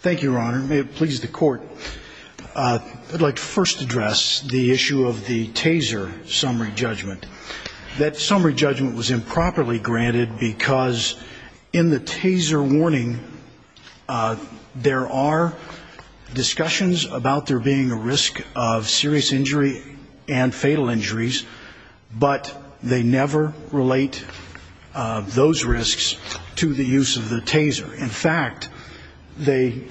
thank you your honor may it please the court I'd like to first address the issue of the taser summary judgment that summary judgment was improperly granted because in the taser warning there are discussions about there being a risk of serious injury and fatal injuries but they never relate those risks to the use of the taser in fact they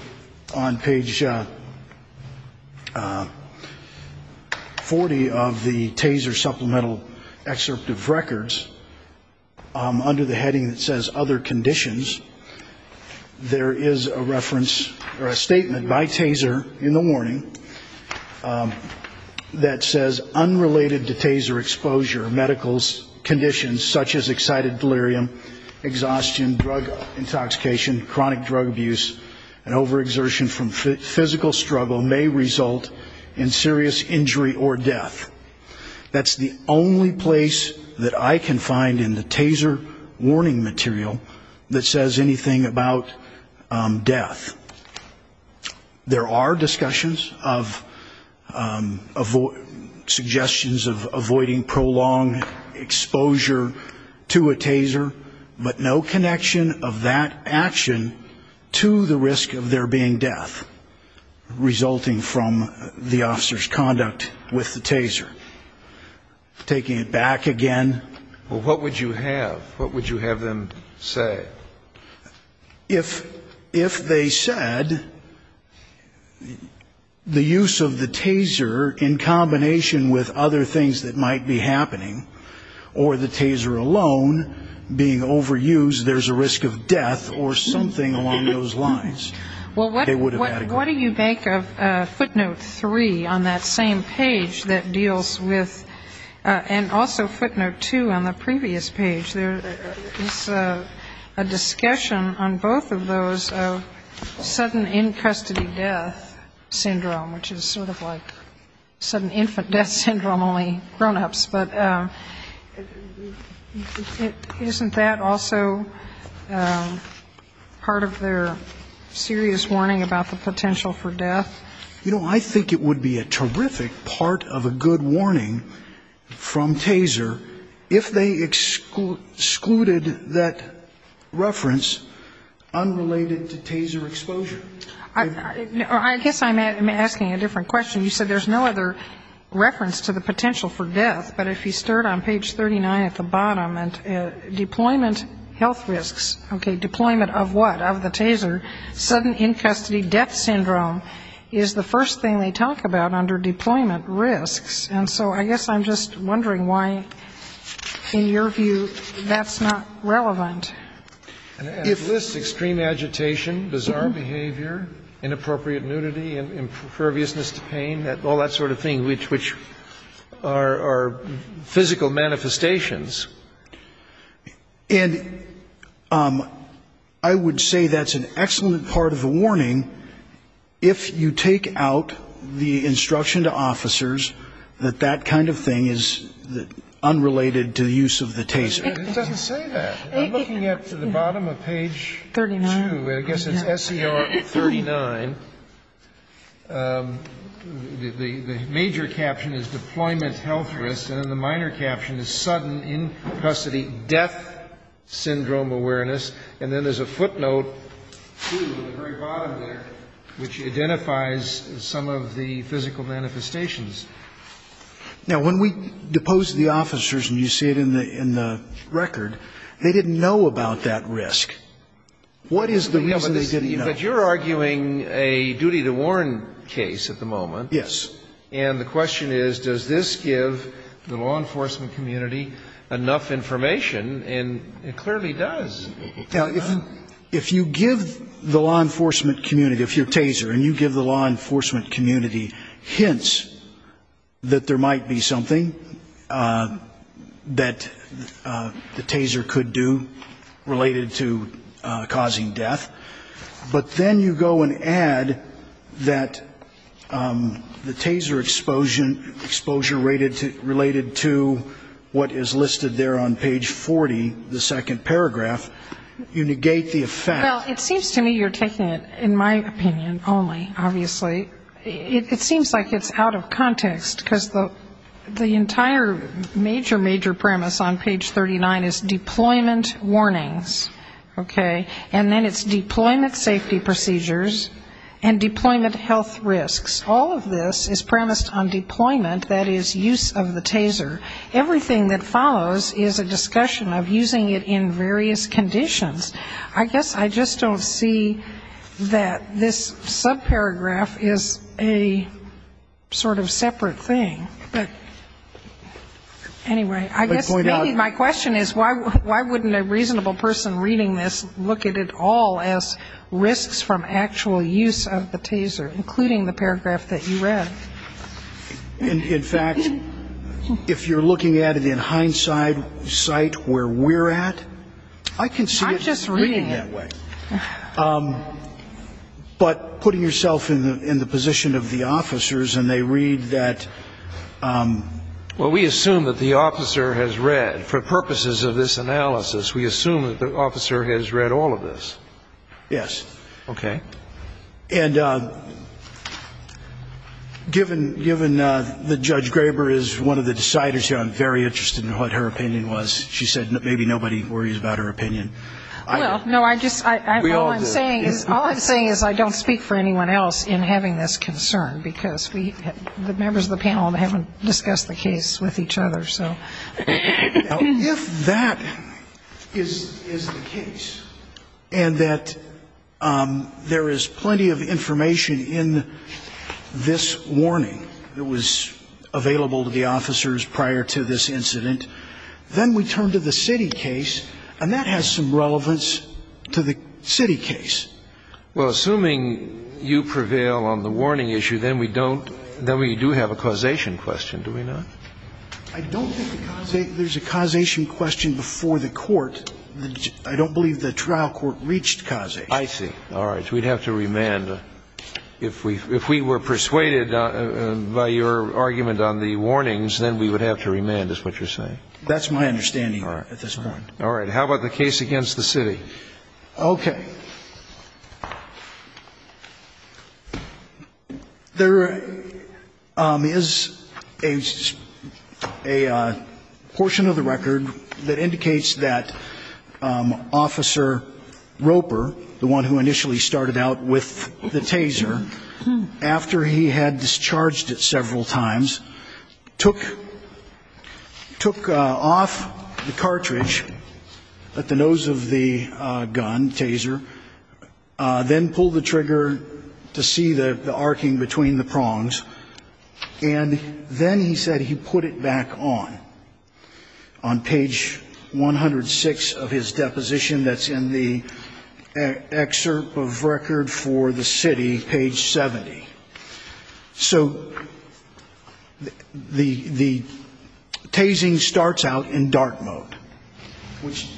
on page 40 of the taser supplemental excerpt of records under the heading that says other conditions there is a reference or a statement by taser in the warning that says unrelated to taser exposure medical conditions such as excited delirium exhaustion drug intoxication chronic drug abuse and over exertion from physical struggle may result in serious injury or death that's the only place that I can find in the taser warning material that says anything about death there are discussions of suggestions of avoiding prolonged exposure to a taser but no connection of that action to the risk of there being death resulting from the officers conduct with the taser taking it back again what would you have what would you in combination with other things that might be happening or the taser alone being overused there's a risk of death or something along those lines well what do you think of footnote 3 on that same page that deals with and also footnote 2 on the previous page there is a discussion on both of those of sudden in custody death syndrome which is sort of like sudden infant death syndrome only grown-ups but isn't that also part of their serious warning about the potential for death you know I think it would be a terrific part of a good warning from taser if they excluded that reference unrelated to taser exposure I guess I'm asking a different question you said there's no other reference to the potential for death but if you start on page 39 at the bottom and deployment health risks okay deployment of what of the taser sudden in custody death syndrome is the first thing they talk about under deployment risks and so I guess I'm just wondering why in your view that's not relevant it lists extreme agitation bizarre behavior inappropriate nudity and imperviousness to pain that all that sort of thing which which are physical manifestations and I would say that's an excellent part of the warning if you take out the instruction to officers that that kind of thing is that unrelated to the use of the taser it doesn't say that I'm looking at the bottom of page 39 I guess it's SCR 39 the major caption is deployment health risks and the minor caption is sudden in custody death syndrome awareness and then there's a footnote which identifies some of the physical manifestations now when we depose the officers and you see it in the in record they didn't know about that risk what is the reason that you're arguing a duty to warn case at the moment yes and the question is does this give the law enforcement community enough information and it clearly does if you give the law enforcement community if your taser and you give the law might be something that the taser could do related to causing death but then you go and add that the taser exposure exposure rated to related to what is listed there on page 40 the second paragraph you negate the effect it seems to me you're taking it in my opinion only obviously it seems like it's out of the entire major major premise on page 39 is deployment warnings okay and then it's deployment safety procedures and deployment health risks all of this is premised on deployment that is use of the taser everything that follows is a discussion of using it in various conditions I guess I just don't see that this subparagraph is a sort of separate thing but anyway I guess my question is why why wouldn't a reasonable person reading this look at it all as risks from actual use of the taser including the paragraph that you read in fact if you're looking at it in hindsight site where we're at I can see I'm just reading that way but putting yourself in the position of the officers and they read that well we assume that the officer has read for purposes of this analysis we assume that the officer has read all of this yes okay and given given the judge Graber is one of the deciders here I'm very interested in what her opinion was she said maybe nobody worries about her opinion I know I just I'm saying is all I'm saying is I don't speak for anyone else in having this concern because we the members of the panel haven't discussed the case with each other so if that is and that there is plenty of information in this warning it was available to the officers prior to this incident then we turn to the city case and that has some relevance to the city case well assuming you prevail on the warning issue then we don't then we do have a causation question do we know I don't think there's a causation question before the court I don't believe the trial court reached cause I see all right we'd have to remand if we if we were persuaded by your argument on the warnings then we would have to remand is what you're saying that's my understanding all right at this point all right how about the case against the city okay there is a a portion of the record that indicates that officer Roper the one who initially started out with the taser after he had discharged it several times took took off the cartridge at the nose of the gun taser then pulled the trigger to see the on page 106 of his deposition that's in the excerpt of record for the city page 70 so the the tasing starts out in dark mode which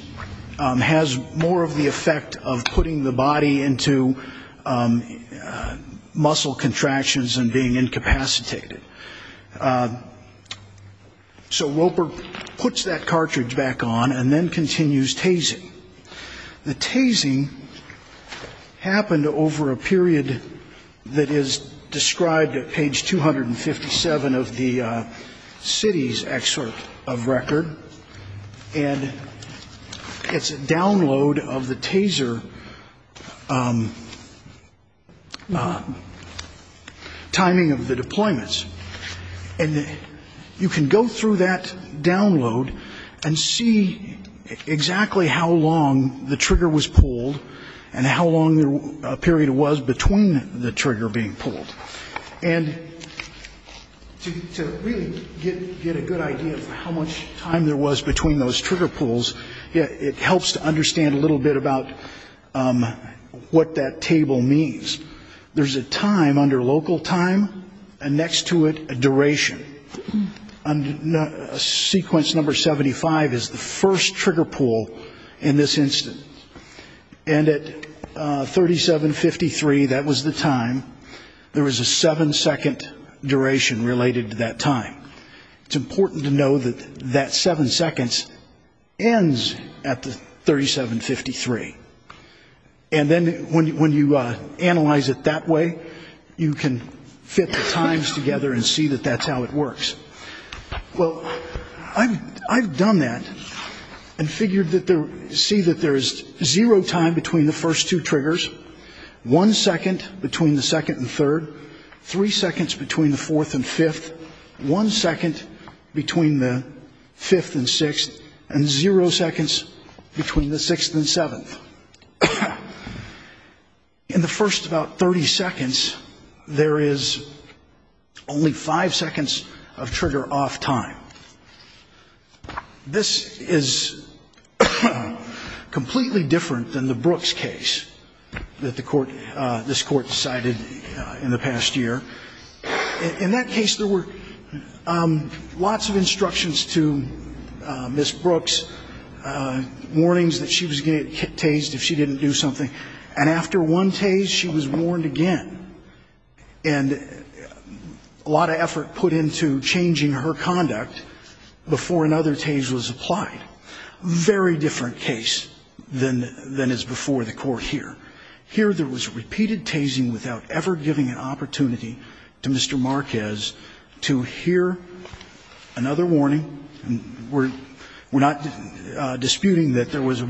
has more of the effect of putting the body into muscle contractions and being incapacitated so Roper puts that cartridge back on and then continues tasing the tasing happened over a period that is described at page 257 of the city's excerpt of record and it's a download of the taser timing of the deployments and you can go through that download and see exactly how long the trigger was pulled and how long the period was between the trigger being pulled and it helps to understand a little bit about what that table means there's a time under local time and next to it a duration and sequence number 75 is the first trigger pull in this instance and at 3753 that was the time there was a seven second duration related to that time it's important to know that that seven seconds ends at the 3753 and then when you analyze it that way you can fit the times together and see that that's how it works well I've done that and figured that there see that there's zero time between the first two triggers one second between the second and third three seconds between the fourth and fifth one second between the fifth and sixth and zero seconds between the sixth and seventh in the first about 30 seconds there is only five seconds of trigger off time this is completely different than the Brooks case that the court this court decided in the past year in that case there were lots of instructions to miss Brooks warnings that she was getting tased if she didn't do something and after one tase she was warned again and a lot of effort put into changing her conduct before another tase was applied very different case than than is before the court here here there was repeated tasing without ever giving an opportunity to Mr. Marquez to hear another warning we're not disputing that there was a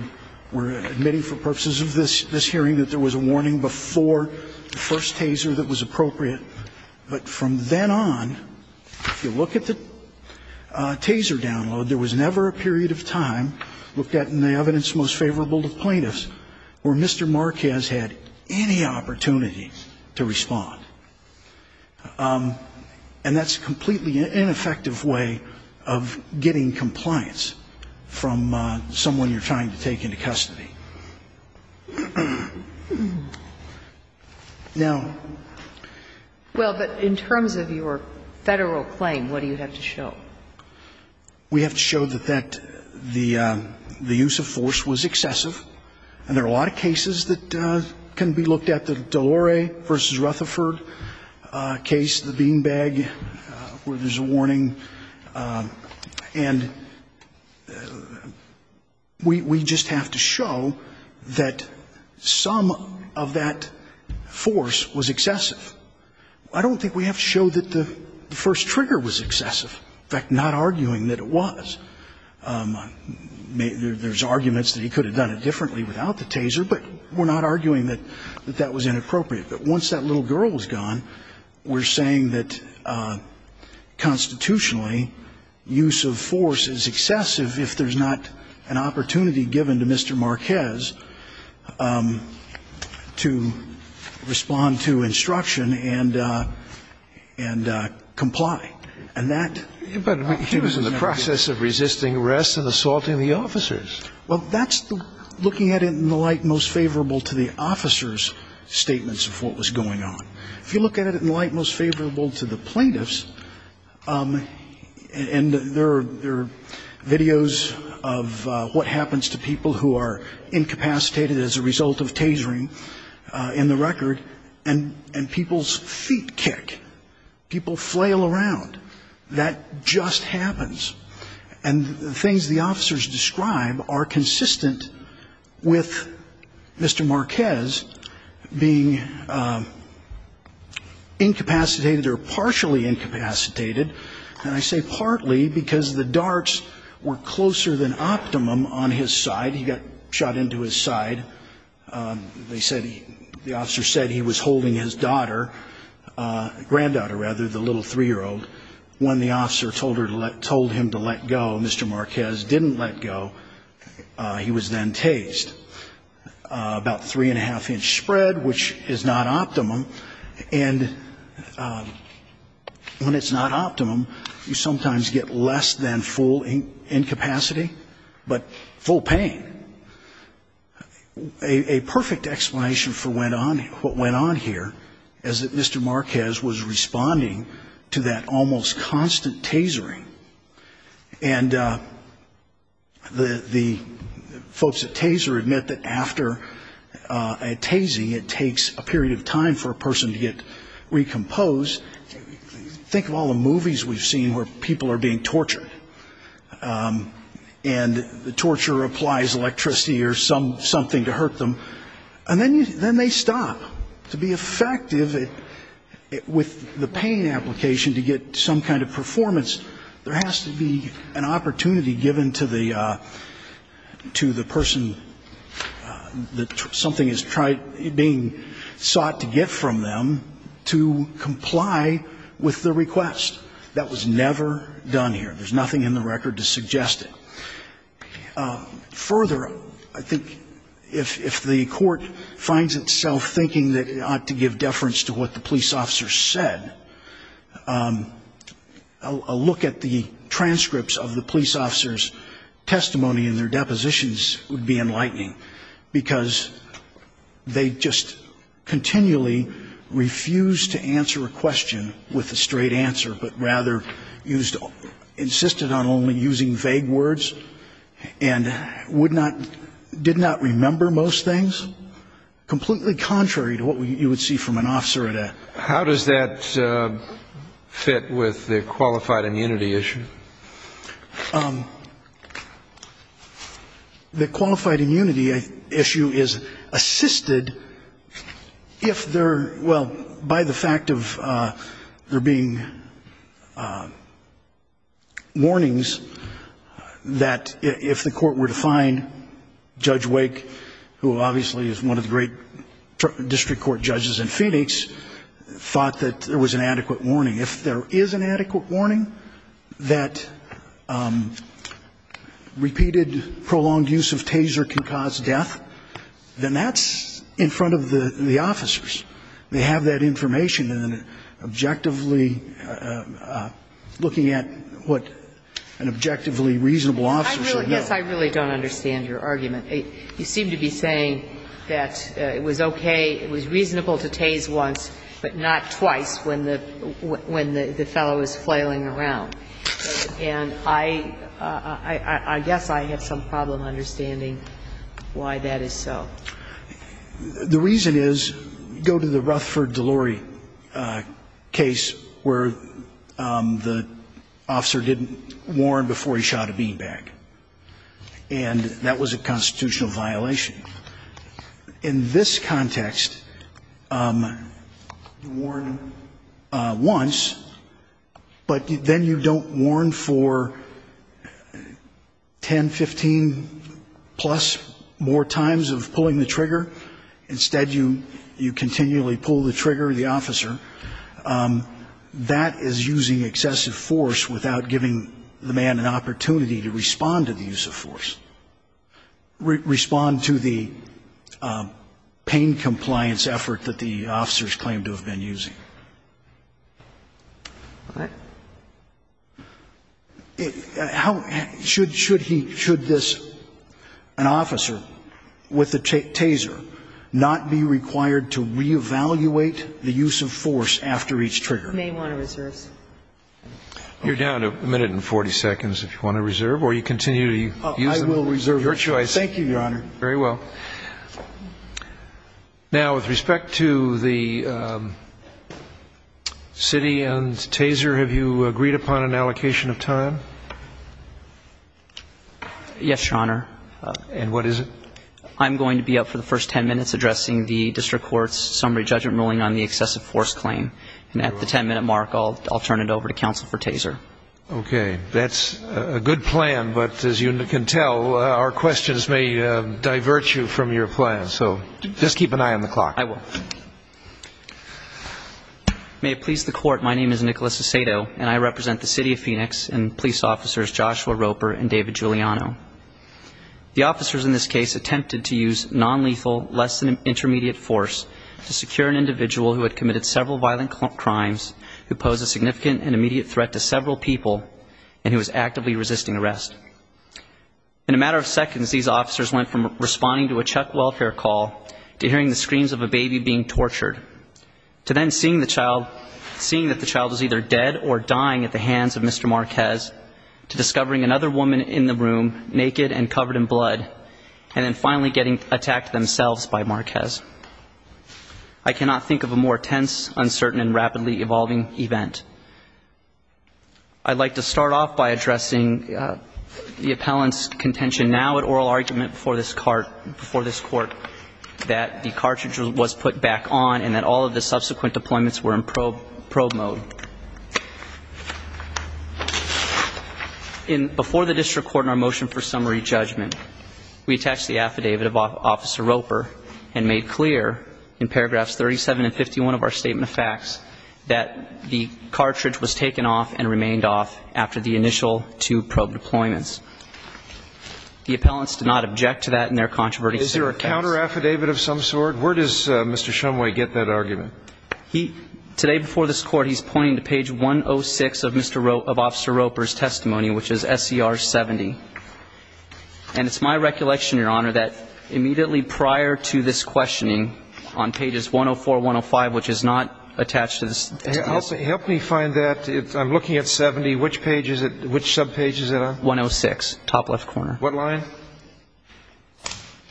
we're admitting for purposes of this this hearing that there was a warning before the first taser that was appropriate but from then on if you look at the taser download there was never a period of time looked at in the evidence most favorable to plaintiffs where Mr. Marquez had any opportunity to respond and that's completely ineffective way of getting compliance from someone you're trying to take into custody now well but in terms of your federal claim what do you have to show we have to show that that the the use of force is not a violation of the law the use of force was excessive and there are a lot of cases that can be looked at the Dolore versus Rutherford case the beanbag where there's a warning and we just have to show that some of that force was excessive I don't think we have to show that the first trigger was excessive in fact not arguing that it was there's arguments that he could have done it differently without the taser but we're not arguing that that was inappropriate but once that little girl was gone we're saying that constitutionally use of force is excessive if there's not an opportunity given to Mr. Marquez to respond to instruction and and comply and that but he was in the process of resisting arrest and assaulting the officers well that's looking at it in the light most favorable to the officers statements of what was going on if you look at it in the light most favorable to the plaintiffs and there are videos of what happens to people who are incapacitated as a result of tasering in the record and and people's feet kick people flail around that just happens and the things the officers describe are consistent with Mr. Marquez being incapacitated or partially incapacitated and I say partly because the darts were closer than optimum on his side he got shot into his side they said the officer said he was a little three-year-old when the officer told her to let told him to let go Mr. Marquez didn't let go he was then tased about three and a half inch spread which is not optimum and when it's not optimum you sometimes get less than full incapacity but full pain a perfect explanation for what went on here is that Mr. Marquez was responding to that almost constant tasering and the folks at taser admit that after a tasing it takes a period of time for a person to get recomposed think of all the movies we've seen where people are being tortured and the torture applies electricity or some something to hurt them and then you then they stop to be effective with the pain application to get some kind of performance there has to be an opportunity given to the to the person that something is tried being sought to get from them to comply with the request that was never done here there's nothing in the record to suggest it further I think if the court finds itself thinking that it ought to give deference to what the police officer said a look at the transcripts of the police officer's testimony in their depositions would be enlightening because they just continually refused to answer a question with a vague words and would not did not remember most things completely contrary to what you would see from an officer at a how does that fit with the qualified immunity issue the qualified immunity issue is assisted if they're well by the fact of there being warnings that if the court were to find judge wake who obviously is one of the great district court judges in phoenix thought that there was an adequate warning if there is an adequate warning that repeated prolonged use of taser can cause death then that's in front of the officers they have that information and if they don't have that information they had some problem if you don't have that information then they're doing another audit to find out if the particularly up against going against an objectively looking at what an objectively reasonable officer yes I really don't understand I really don't understand your argument you seem to be saying that it was okay it was reasonable to tase once but not twice when the fellow was flailing where the officer didn't warn before he shot a bean bag and that was a constitutional violation in this context warn once but then you don't warn for 10 15 plus more times of pulling the trigger instead you you continually pull the trigger the officer that is using excessive force without giving the man an opportunity to respond to the use of force respond to the pain compliance effort that the officers claim to have been using how should should he should this an officer with the taser not be required to re-evaluate his actions to evaluate the use of force after each trigger may want to reserve you're down a minute and 40 seconds if you want to reserve or you continue to use the reserve your choice thank you your honor very well now with respect to the city and taser have you agreed upon an allocation of time yes your honor and what is it I'm going to be up for the first 10 minutes addressing the district courts summary judgment ruling on the excessive force claim and at the 10 minute mark I'll turn it over to counsel for taser okay that's a good plan but as you can tell our questions may divert you from your plan so just keep an eye on the clock I will may it please the court my name is Nicholas Asado and I represent the city of Phoenix and police officers Joshua Roper and David Giuliano the officers in this case attempted to use non-lethal less than intermediate force to secure an individual who had committed several violent crimes who posed a significant and immediate threat to several people and who was actively resisting arrest in a matter of seconds these officers went from responding to a Chuck welfare call to hearing the screams of a baby being tortured to then seeing the child seeing that the child was either dead or dying at the hands of Mr. Marquez to discovering another woman in the room naked and covered in blood and then being forced out of the room by Mr. Marquez I cannot think of a more tense uncertain and rapidly evolving event I'd like to start off by addressing the appellant's contention now at oral argument before this court that the cartridge was put back on and that all of the subsequent deployments were in probe mode in before the district court in our motion for summary judgment we attached the affidavit of officer Roper and made clear in paragraphs 37 and 51 of our statement of facts that the cartridge was taken off and remained off after the initial two probe deployments the appellants did not object to that in their controversy is there a counter affidavit of some sort where does Mr. Trumway get that argument he today before this court he's pointing to page 106 of mr. Roper of officer Roper's testimony which is SCR 70 and it's my recollection your honor that immediately prior to this questioning on pages 104 105 which is not attached to this help me find that if I'm looking at 70 which pages at which subpage is it on 106 top left corner what line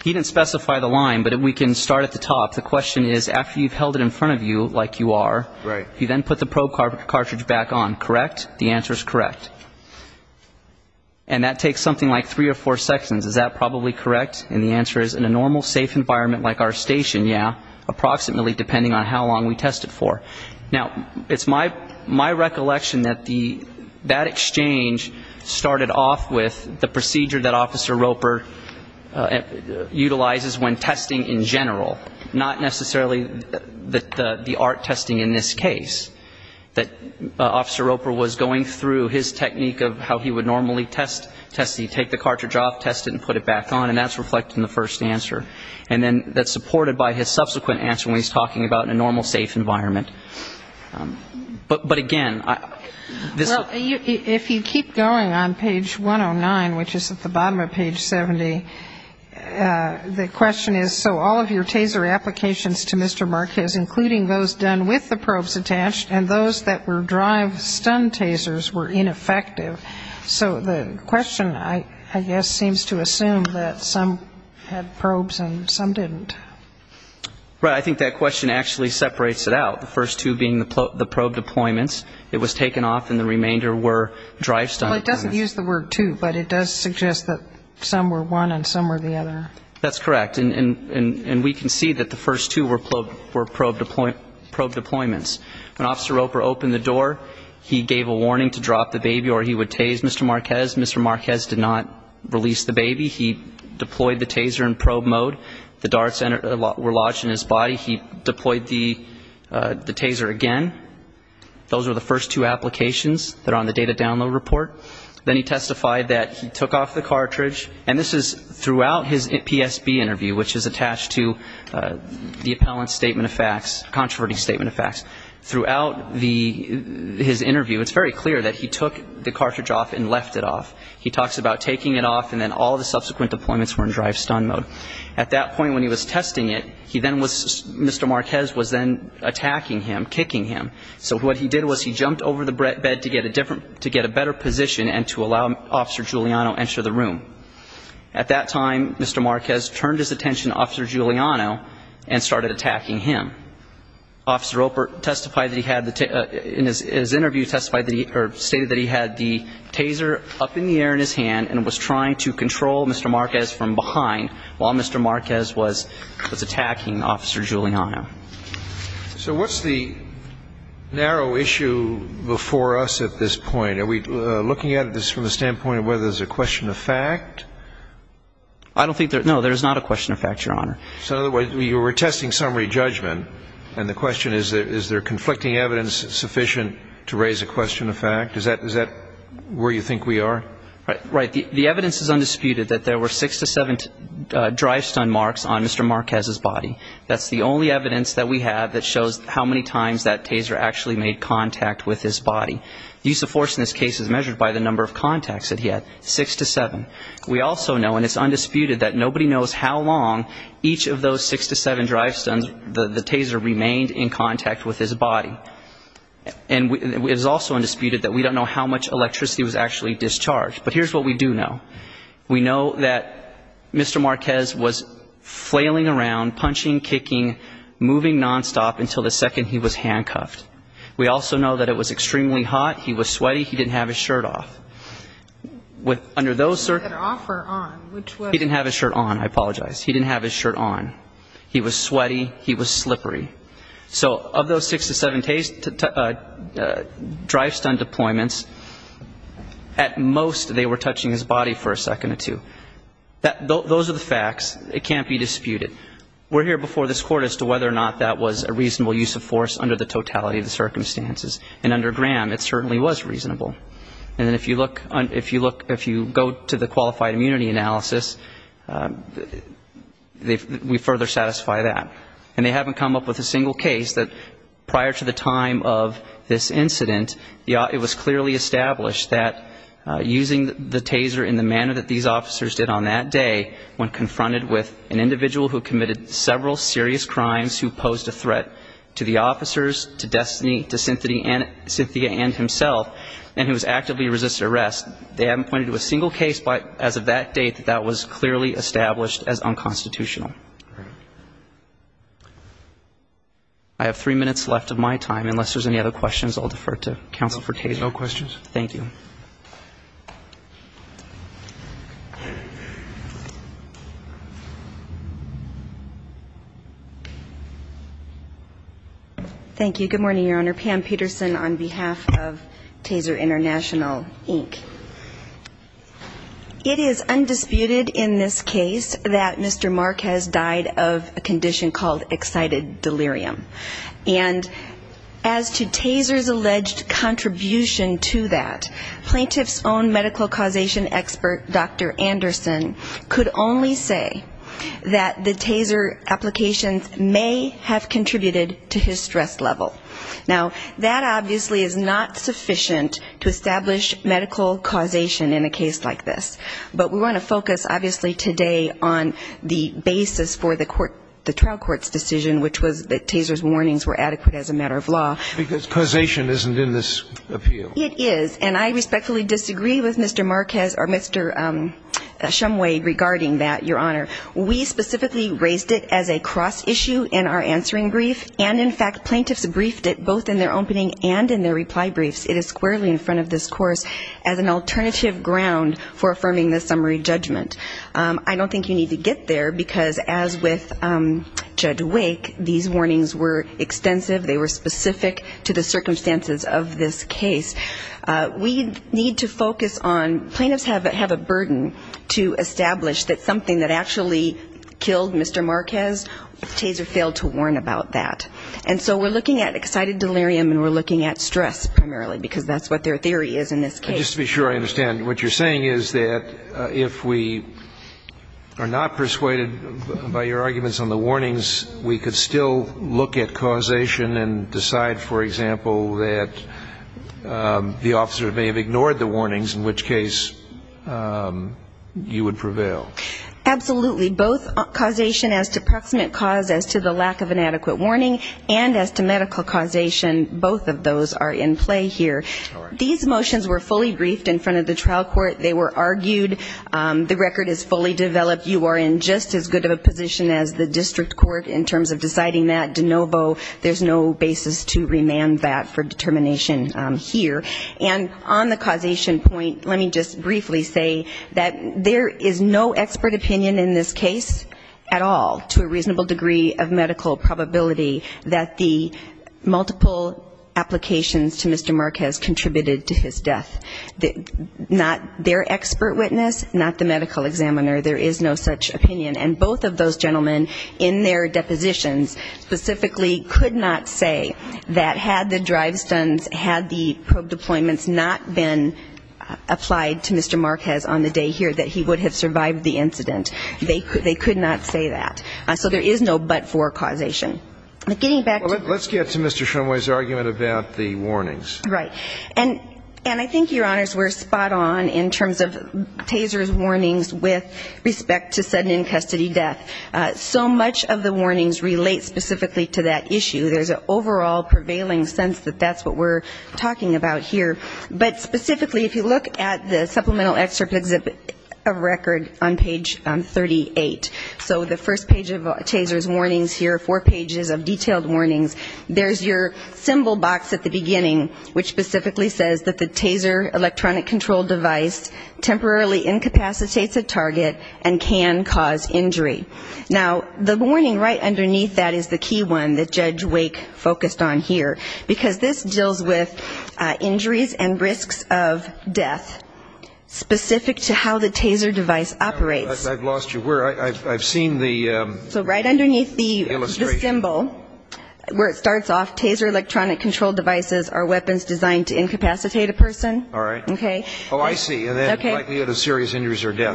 he didn't specify the line but if we can start at the top the question is after you've held it in front of you like you are right you then put the probe car cartridge back on correct the answer is correct and that takes something like three or four seconds is that probably correct and the answer is in a normal safe environment like our station yeah approximately depending on how long we test it for now it's my my recollection that the that exchange started off with the procedure that officer Roper utilizes when testing in general not necessarily the the art testing in this case that officer Roper was going through his technique of how he would normally test test he take the cartridge off test it and put it back on and that's reflected in the first answer and then that's supported by his subsequent answer when he's talking about in a normal safe environment but but again I this if you keep going on page 109 which is at the bottom of page 70 the question is so all of your taser applications to mr. Roper are they subject to the mark is including those done with the probes attached and those that were drive stun tasers were ineffective so the question I I guess seems to assume that some had probes and some didn't right I think that question actually separates it out the first two being the probe deployments it was taken off and the remainder were drive stun it doesn't use the word to but it does suggest that some were one and some were the other that's correct and and and we can see that the remainder were probe deploy probe deployments when officer Roper opened the door he gave a warning to drop the baby or he would tase mr. Marquez mr. Marquez did not release the baby he deployed the taser in probe mode the darts entered a lot were lodged in his body he deployed the the taser again those are the first two applications that are on the data download report then he testified that he took off the cartridge and this is throughout his PSB interview which is attached to the appellant facts controversy statement of facts throughout the his interview it's very clear that he took the cartridge off and left it off he talks about taking it off and then all the subsequent deployments were in drive stun mode at that point when he was testing it he then was mr. Marquez was then attacking him kicking him so what he did was he jumped over the bed to get a different to get a better position and to allow officer Giuliano enter the room at that time mr. Marquez turned his attention officer Giuliano and officer Roper testified that he had the tip in his interview testified that he stated that he had the taser up in the air in his hand and was trying to control mr. Marquez from behind while mr. Marquez was attacking officer Giuliano so what's the narrow issue before us at this point are we looking at this from the standpoint of whether there's a question of fact I don't know if there's a question of fact and the question is that is there conflicting evidence sufficient to raise a question of fact is that is that where you think we are right the evidence is undisputed that there were six to seven drive stun marks on mr. Marquez's body that's the only evidence that we have that shows how many times that taser actually made contact with his body the use of force in this case is measured by the number of contacts that he had six to seven we also know and it's true that the taser remained in contact with his body and it is also undisputed that we don't know how much electricity was actually discharged but here's what we do know we know that mr. Marquez was flailing around punching kicking moving non-stop until the second he was handcuffed we also know that it was extremely hot he was sweaty he didn't have his shirt off what under those circumstances he didn't have his shirt on I apologize he didn't have his shirt on he was sweaty he was slippery so of those six to seven drive stun deployments at most they were touching his body for a second or two those are the facts it can't be disputed we're here before this court as to whether or not that was a reasonable use of force under the totality of the circumstances and under Graham it certainly was reasonable and if you look if you go to the qualified immunity analysis we further satisfy that and they haven't come up with a single case that prior to the time of this incident it was clearly established that using the taser in the manner that these officers did on that day when confronted with an individual who committed several serious crimes who posed a threat to the officers to destiny to Cynthia and himself and who was actively resisted arrest they haven't pointed to a single case but as of that date that was clearly established as unconstitutional. I have three minutes left of my time unless there's any other questions I'll defer to counsel for taser. No questions. Thank you. Thank you good morning your honor Pam Peterson on behalf of taser international Inc. It is undisputed in this case that Mr. Marquez died of a condition called excited delirium and as to taser's alleged contribution to that plaintiff's own medical causation expert Dr. Anderson could only say that the taser applications may have contributed to his stress level. Now that obviously is not sufficient to establish medical causation in a case like this but we want to focus obviously today on the basis for the trial court's decision which was that taser's warnings were adequate as a matter of law. Because causation isn't in this appeal. It is and I respectfully disagree with Mr. Marquez or Mr. Shumway regarding that your honor. We specifically raised it as a cross issue in our answering brief and in fact plaintiffs briefed it both in their opening and in their reply briefs. It is squarely in front of this course as an alternative ground for affirming the summary judgment. I don't think you need to get there because as with Judge Wake these warnings were extensive, they were specific, they were clear, they were clear, they were specific to the circumstances of this case. We need to focus on plaintiffs have a burden to establish that something that actually killed Mr. Marquez, taser failed to warn about that. And so we're looking at excited delirium and we're looking at stress primarily because that's what their theory is in this case. Just to be sure I understand what you're saying is that if we are not persuaded by your arguments on the warnings we could still look at for example that the officer may have ignored the warnings in which case you would prevail. Absolutely. Both causation as to proximate cause as to the lack of an adequate warning and as to medical causation both of those are in play here. These motions were fully briefed in front of the trial court. They were argued. The record is fully developed. You are in just as good of a position as the district court in terms of deciding that de novo there's no basis to remain. And that for determination here. And on the causation point, let me just briefly say that there is no expert opinion in this case at all to a reasonable degree of medical probability that the multiple applications to Mr. Marquez contributed to his death. Not their expert witness, not the medical examiner. There is no such opinion. And both of those gentlemen in their depositions specifically could not say that had the drive stunts, had the probe deployments not been applied to Mr. Marquez on the day here that he would have survived the incident. They could not say that. So there is no but for causation. Let's get to Mr. Shumway's argument about the warnings. Right. And I think, Your Honors, we're spot on in terms of Taser's warnings with respect to sudden in custody death. So much of the evidence points specifically to that issue. There's an overall prevailing sense that that's what we're talking about here. But specifically if you look at the supplemental excerpt of record on page 38. So the first page of Taser's warnings here, four pages of detailed warnings, there's your symbol box at the beginning, which specifically says that the Taser electronic control device temporarily incapacitates a target and can cause injury. Now, the warning right underneath that is that the Taser electronic control device is the key one that Judge Wake focused on here. Because this deals with injuries and risks of death, specific to how the Taser device operates. I've lost you. I've seen the illustration. So right underneath the symbol where it starts off, Taser electronic control devices are weapons designed to incapacitate a person. All right. Oh, I see. And then you have a serious injury or death.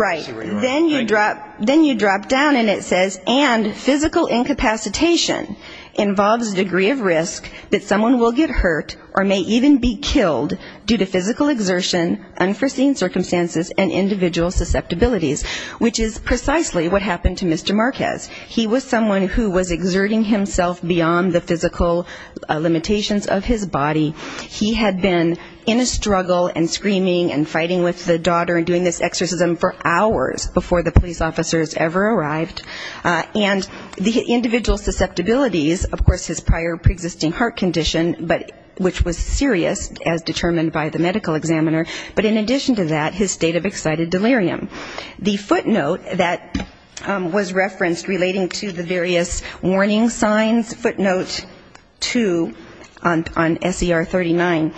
Then you drop down and it says, and physical incapacitation involves a degree of risk that someone will get hurt or may even be killed due to physical exertion, unforeseen circumstances, and individual susceptibilities. Which is precisely what happened to Mr. Marquez. He was someone who was exerting himself beyond the physical limitations of his body. He had been in a struggle and screaming for his life. He was screaming and fighting with the daughter and doing this exorcism for hours before the police officers ever arrived. And the individual susceptibilities, of course his prior preexisting heart condition, which was serious as determined by the medical examiner, but in addition to that, his state of excited delirium. The footnote that was referenced relating to the various warning signs, footnote two on SER 39,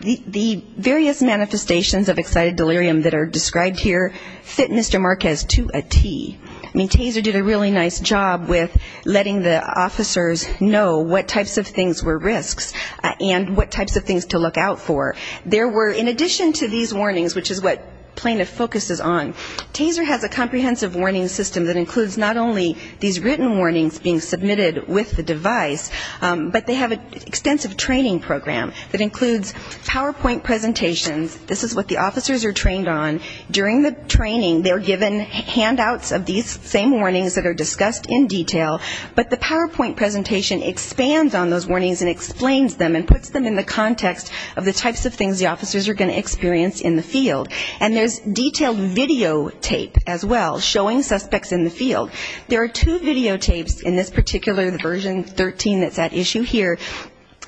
the various warning signs that were described here fit Mr. Marquez to a T. I mean, TASER did a really nice job with letting the officers know what types of things were risks and what types of things to look out for. There were, in addition to these warnings, which is what plaintiff focus is on, TASER has a comprehensive warning system that includes not only these written warnings being submitted with the device, but they have an extensive training program that includes PowerPoint presentations. This is what the officers are trained on. During the training, they're given handouts of these same warnings that are discussed in detail, but the PowerPoint presentation expands on those warnings and explains them and puts them in the context of the types of things the officers are going to experience in the field. And there's detailed videotape as well showing suspects in the field. There are two videotapes in this particular version 13 that's at issue here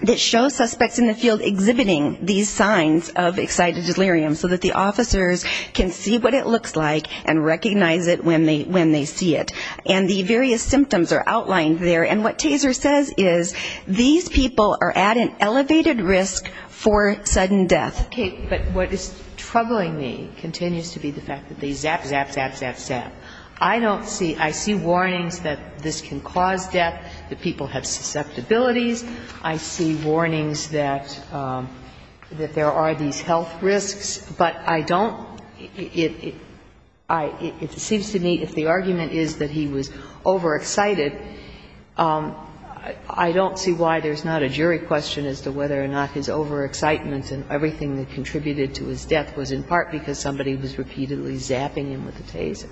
that show suspects in the field exhibiting these signs. These are the signs of excited delirium, so that the officers can see what it looks like and recognize it when they see it. And the various symptoms are outlined there. And what TASER says is these people are at an elevated risk for sudden death. Okay, but what is troubling me continues to be the fact that they zap, zap, zap, zap, zap. I don't see, I see warnings that this can cause death, that people have susceptibilities. I see warnings that there are these signs that they're not going to die. And I see warnings that there are these health risks. But I don't, it seems to me if the argument is that he was overexcited, I don't see why there's not a jury question as to whether or not his overexcitement and everything that contributed to his death was in part because somebody was repeatedly zapping him with a TASER.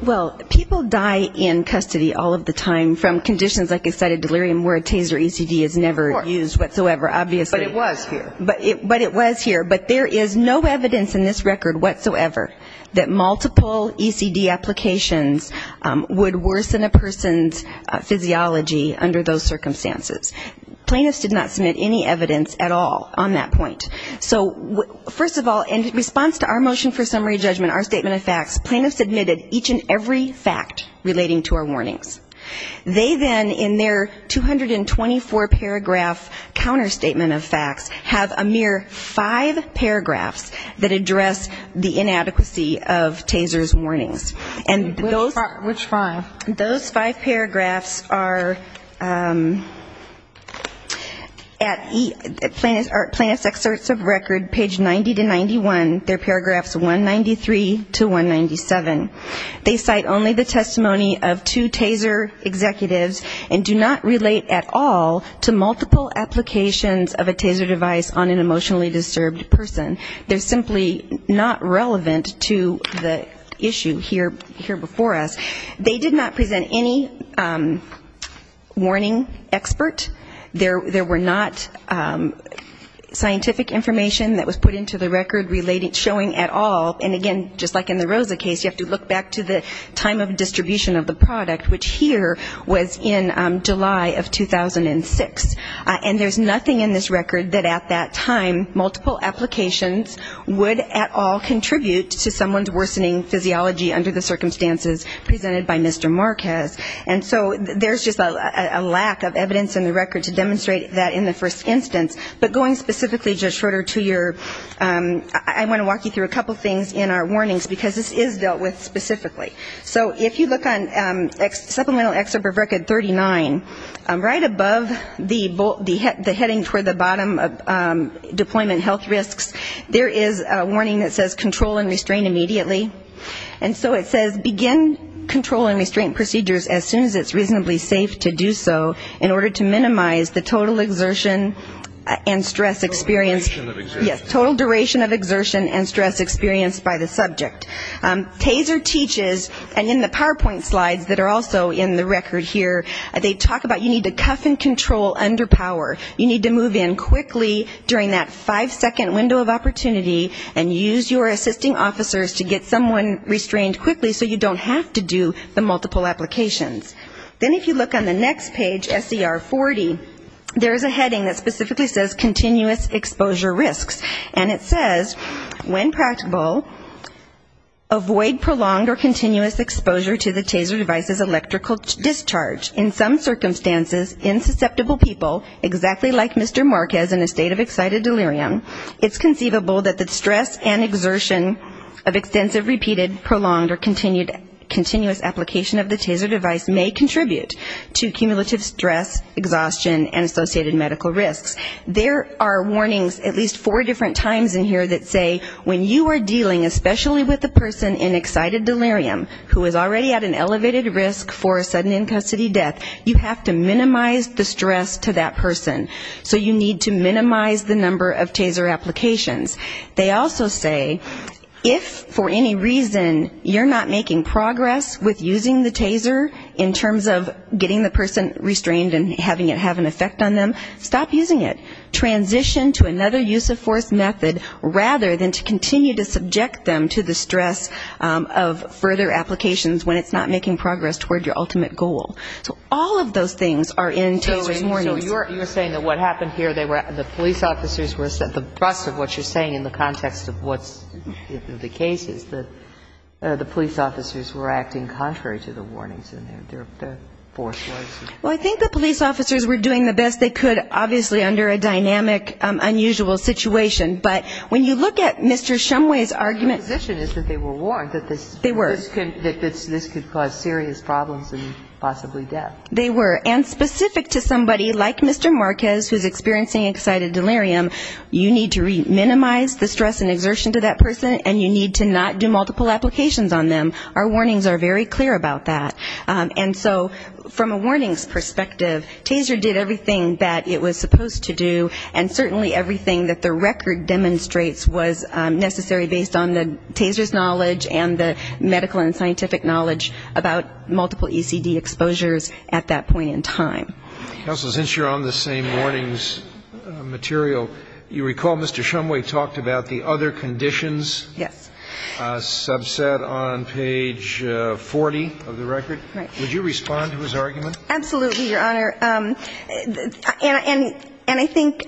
Well, people die in custody all of the time from conditions like excited delirium where a TASER ECD is never used whatsoever, obviously. But it was here. But it was here. But there is no evidence in this record whatsoever that multiple ECD applications would worsen a person's physiology under those circumstances. Plaintiffs did not submit any evidence at all on that point. So first of all, in response to our motion for summary judgment, our statement of facts, plaintiffs admitted each and every fact relating to our warnings. They then, in their 224-paragraph counterstatement, submitted a statement of facts that stated that there was no ECD. And each statement of facts have a mere five paragraphs that address the inadequacy of TASER's warnings. And those five paragraphs are at plaintiff's excerpts of record, page 90-91, they're paragraphs 193-197. They cite only the testimony of two TASER executives and do not relate at all to multiple applications of TASER ECD. They do not present any evidence of a TASER device on an emotionally disturbed person. They're simply not relevant to the issue here before us. They did not present any warning expert. There were not scientific information that was put into the record showing at all. And again, just like in the Rosa case, you have to look back to the time of distribution of the product, which here was in the first instance. And so there's just a lack of evidence in the record to demonstrate that in the first instance. But going specifically, Judge Schroeder, to your, I want to walk you through a couple things in our warnings, because this is dealt with specifically. So if you look on supplemental excerpt of record 39, right above the heading toward the bottom of the deployment health risks, there is a warning that says control and restrain immediately. And so it says begin control and restraint procedures as soon as it's reasonably safe to do so in order to minimize the total exertion and stress experience by the subject. TASER teaches, and in the PowerPoint slides that are also in the record here, they talk about you need to cuff and control under power. You need to move in quickly during that five-second window of opportunity and use your assisting officers to get someone restrained quickly so you don't have to do the multiple applications. Then if you look on the next page, SCR 40, there's a heading that specifically says continuous exposure risks. And it says when practical, avoid prolonged or continuous exposure to the TASER device's electrical discharge. In some circumstances, in susceptible people, exactly like Mr. Marquez in a state of excited delirium, it's conceivable that the stress and exertion of extensive repeated prolonged or continuous application of the TASER device may contribute to cumulative stress, exhaustion and associated medical risks. There are warnings at least four different times in here that say when you are dealing, especially with a person in excited delirium who is already at an elevated risk for a sudden in-custody death, you have to minimize the stress to that person. So you need to minimize the number of TASER applications. They also say if for any reason you're not making progress with using the TASER in terms of getting the person restrained and having it have an effect on them, stop using it. Transition to another use of force method rather than to continue to subject them to the stress of further applications when it's not making progress toward your ultimate goal. So all of those things are in TASER's warnings. So you're saying that what happened here, the police officers were at the bust of what you're saying in the context of what's the case is, that the police officers were acting contrary to the warnings in their force ways. Well, I think the police officers were doing the best they could, obviously under a dynamic, unusual situation. But when you look at Mr. Shumway's argument... They were. And specific to somebody like Mr. Marquez, who's experiencing excited delirium, you need to minimize the stress and exertion to that person, and you need to not do multiple applications on them. Our warnings are very clear about that. And so from a warnings perspective, TASER did everything that it was supposed to do, and certainly everything that the record demonstrates was necessary based on the TASER's knowledge and the medical and scientific knowledge of that person. And so it was very clear about multiple ECD exposures at that point in time. Counsel, since you're on the same warnings material, you recall Mr. Shumway talked about the other conditions? Yes. Subset on page 40 of the record. Would you respond to his argument? Absolutely, Your Honor. And I think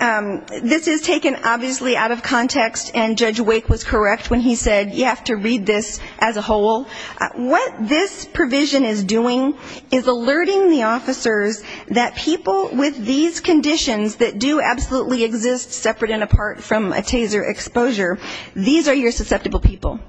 this is taken obviously out of context, and Judge Wake was correct when he said, you have to minimize the stress and exertion to that person. And what this provision is doing is alerting the officers that people with these conditions that do absolutely exist separate and apart from a TASER exposure, these are your susceptible people.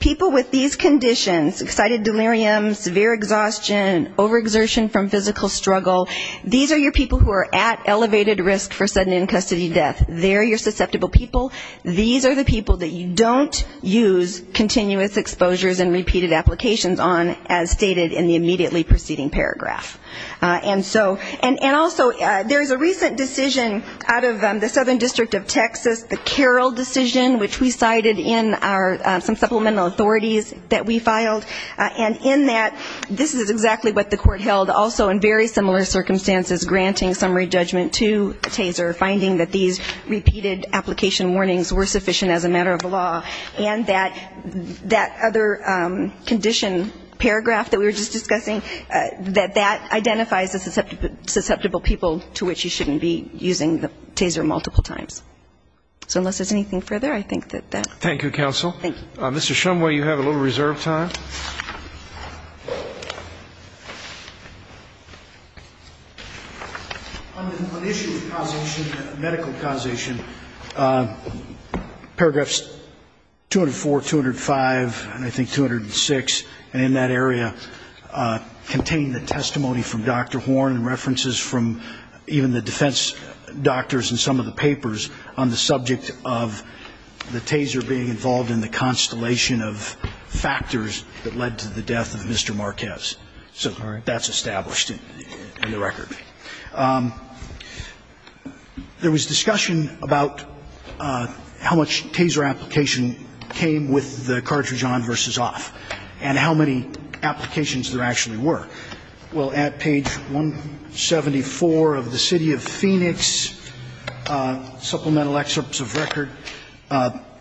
People with these conditions, excited delirium, severe exhaustion, overexertion from physical struggle, these are your people who are at elevated risk for sudden in-custody death. They're your susceptible people. These are the people that you don't use continuous exposures and repeated applications on, as stated in the immediately preceding paragraph. And so, and also there's a recent decision out of the Southern District of Texas, the Carroll decision, which we cited in our supplemental authorities that we filed, and in that this is exactly what the court held also in very similar circumstances, granting summary judgment to TASER, finding that these repeated application warnings were sufficient as a matter of law, and that that other condition paragraph that we were just discussing, that that identifies the susceptible people to which you shouldn't be using the TASER multiple times. So unless there's anything further, I think that that's it. Thank you, counsel. Mr. Shumway, you have a little reserve time. On the issue of causation, medical causation, paragraphs 204, 205, and 206, and 207, and 208, and 209, and 208, and 209, and 209, and I think 206, and in that area contain the testimony from Dr. Horn and references from even the defense doctors in some of the papers on the subject of the TASER being involved in the constellation of factors that led to the death of Mr. Marquez. So that's established in the record. There was discussion about how much TASER application came with the cartridge-on versus cartridge-off. And how many applications there actually were. Well, at page 174 of the City of Phoenix supplemental excerpts of record,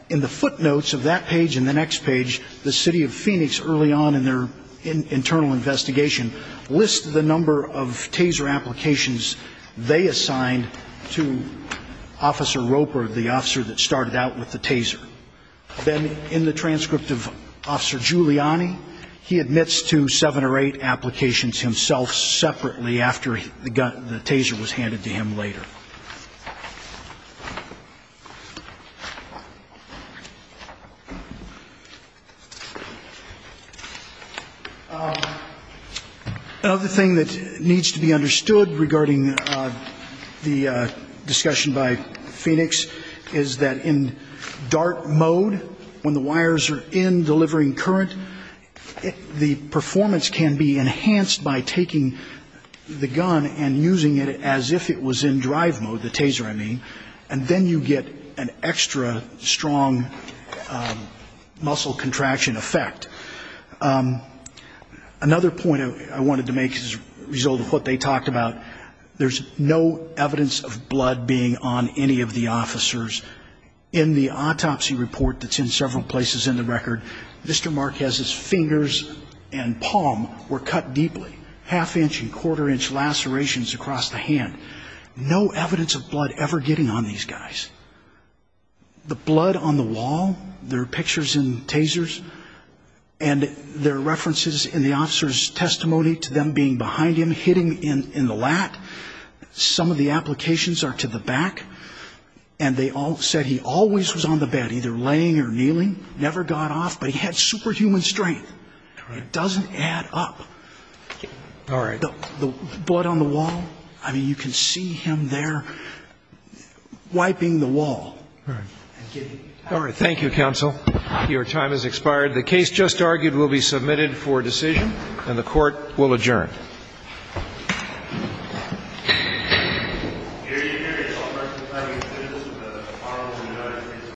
in the footnotes of that page and the next page, the City of Phoenix early on in their internal investigation lists the number of TASER applications they assigned to Officer Roper, the officer that started out with the TASER. Then in the transcript of Officer Giuliani, he admits to seven or eight applications himself separately after the TASER was handed to him later. Another thing that needs to be understood regarding the discussion by Phoenix is that in the case of Mr. Marquez, there was no evidence of blood being on any of the officers in the operating room. There was no evidence of blood being on any of the officers in the operating room. In DART mode, when the wires are in, delivering current, the performance can be enhanced by taking the gun and using it as if it was in drive mode, the TASER I mean, and then you get an extra strong muscle contraction effect. Another point I wanted to make as a result of what they talked about, there's no evidence of blood being on any of the officers in the operating room. In the autopsy report that's in several places in the record, Mr. Marquez's fingers and palm were cut deeply, half-inch and quarter-inch lacerations across the hand. No evidence of blood ever getting on these guys. The blood on the wall, there are pictures in TASERs, and there are references in the officer's testimony to them being behind him, hitting in the lat, some of the applications are to the back, and they all said he always was on the back of the TASER. The blood on the wall, the blood on the wall, you can see the blood on the wall, he was in the operating room, he was on the bed, either laying or kneeling, never got off, but he had superhuman strength. It doesn't add up. The blood on the wall, I mean, you can see him there wiping the wall. Thank you, counsel. Your time has expired. The case just argued will be submitted for decision, and the Court will adjourn.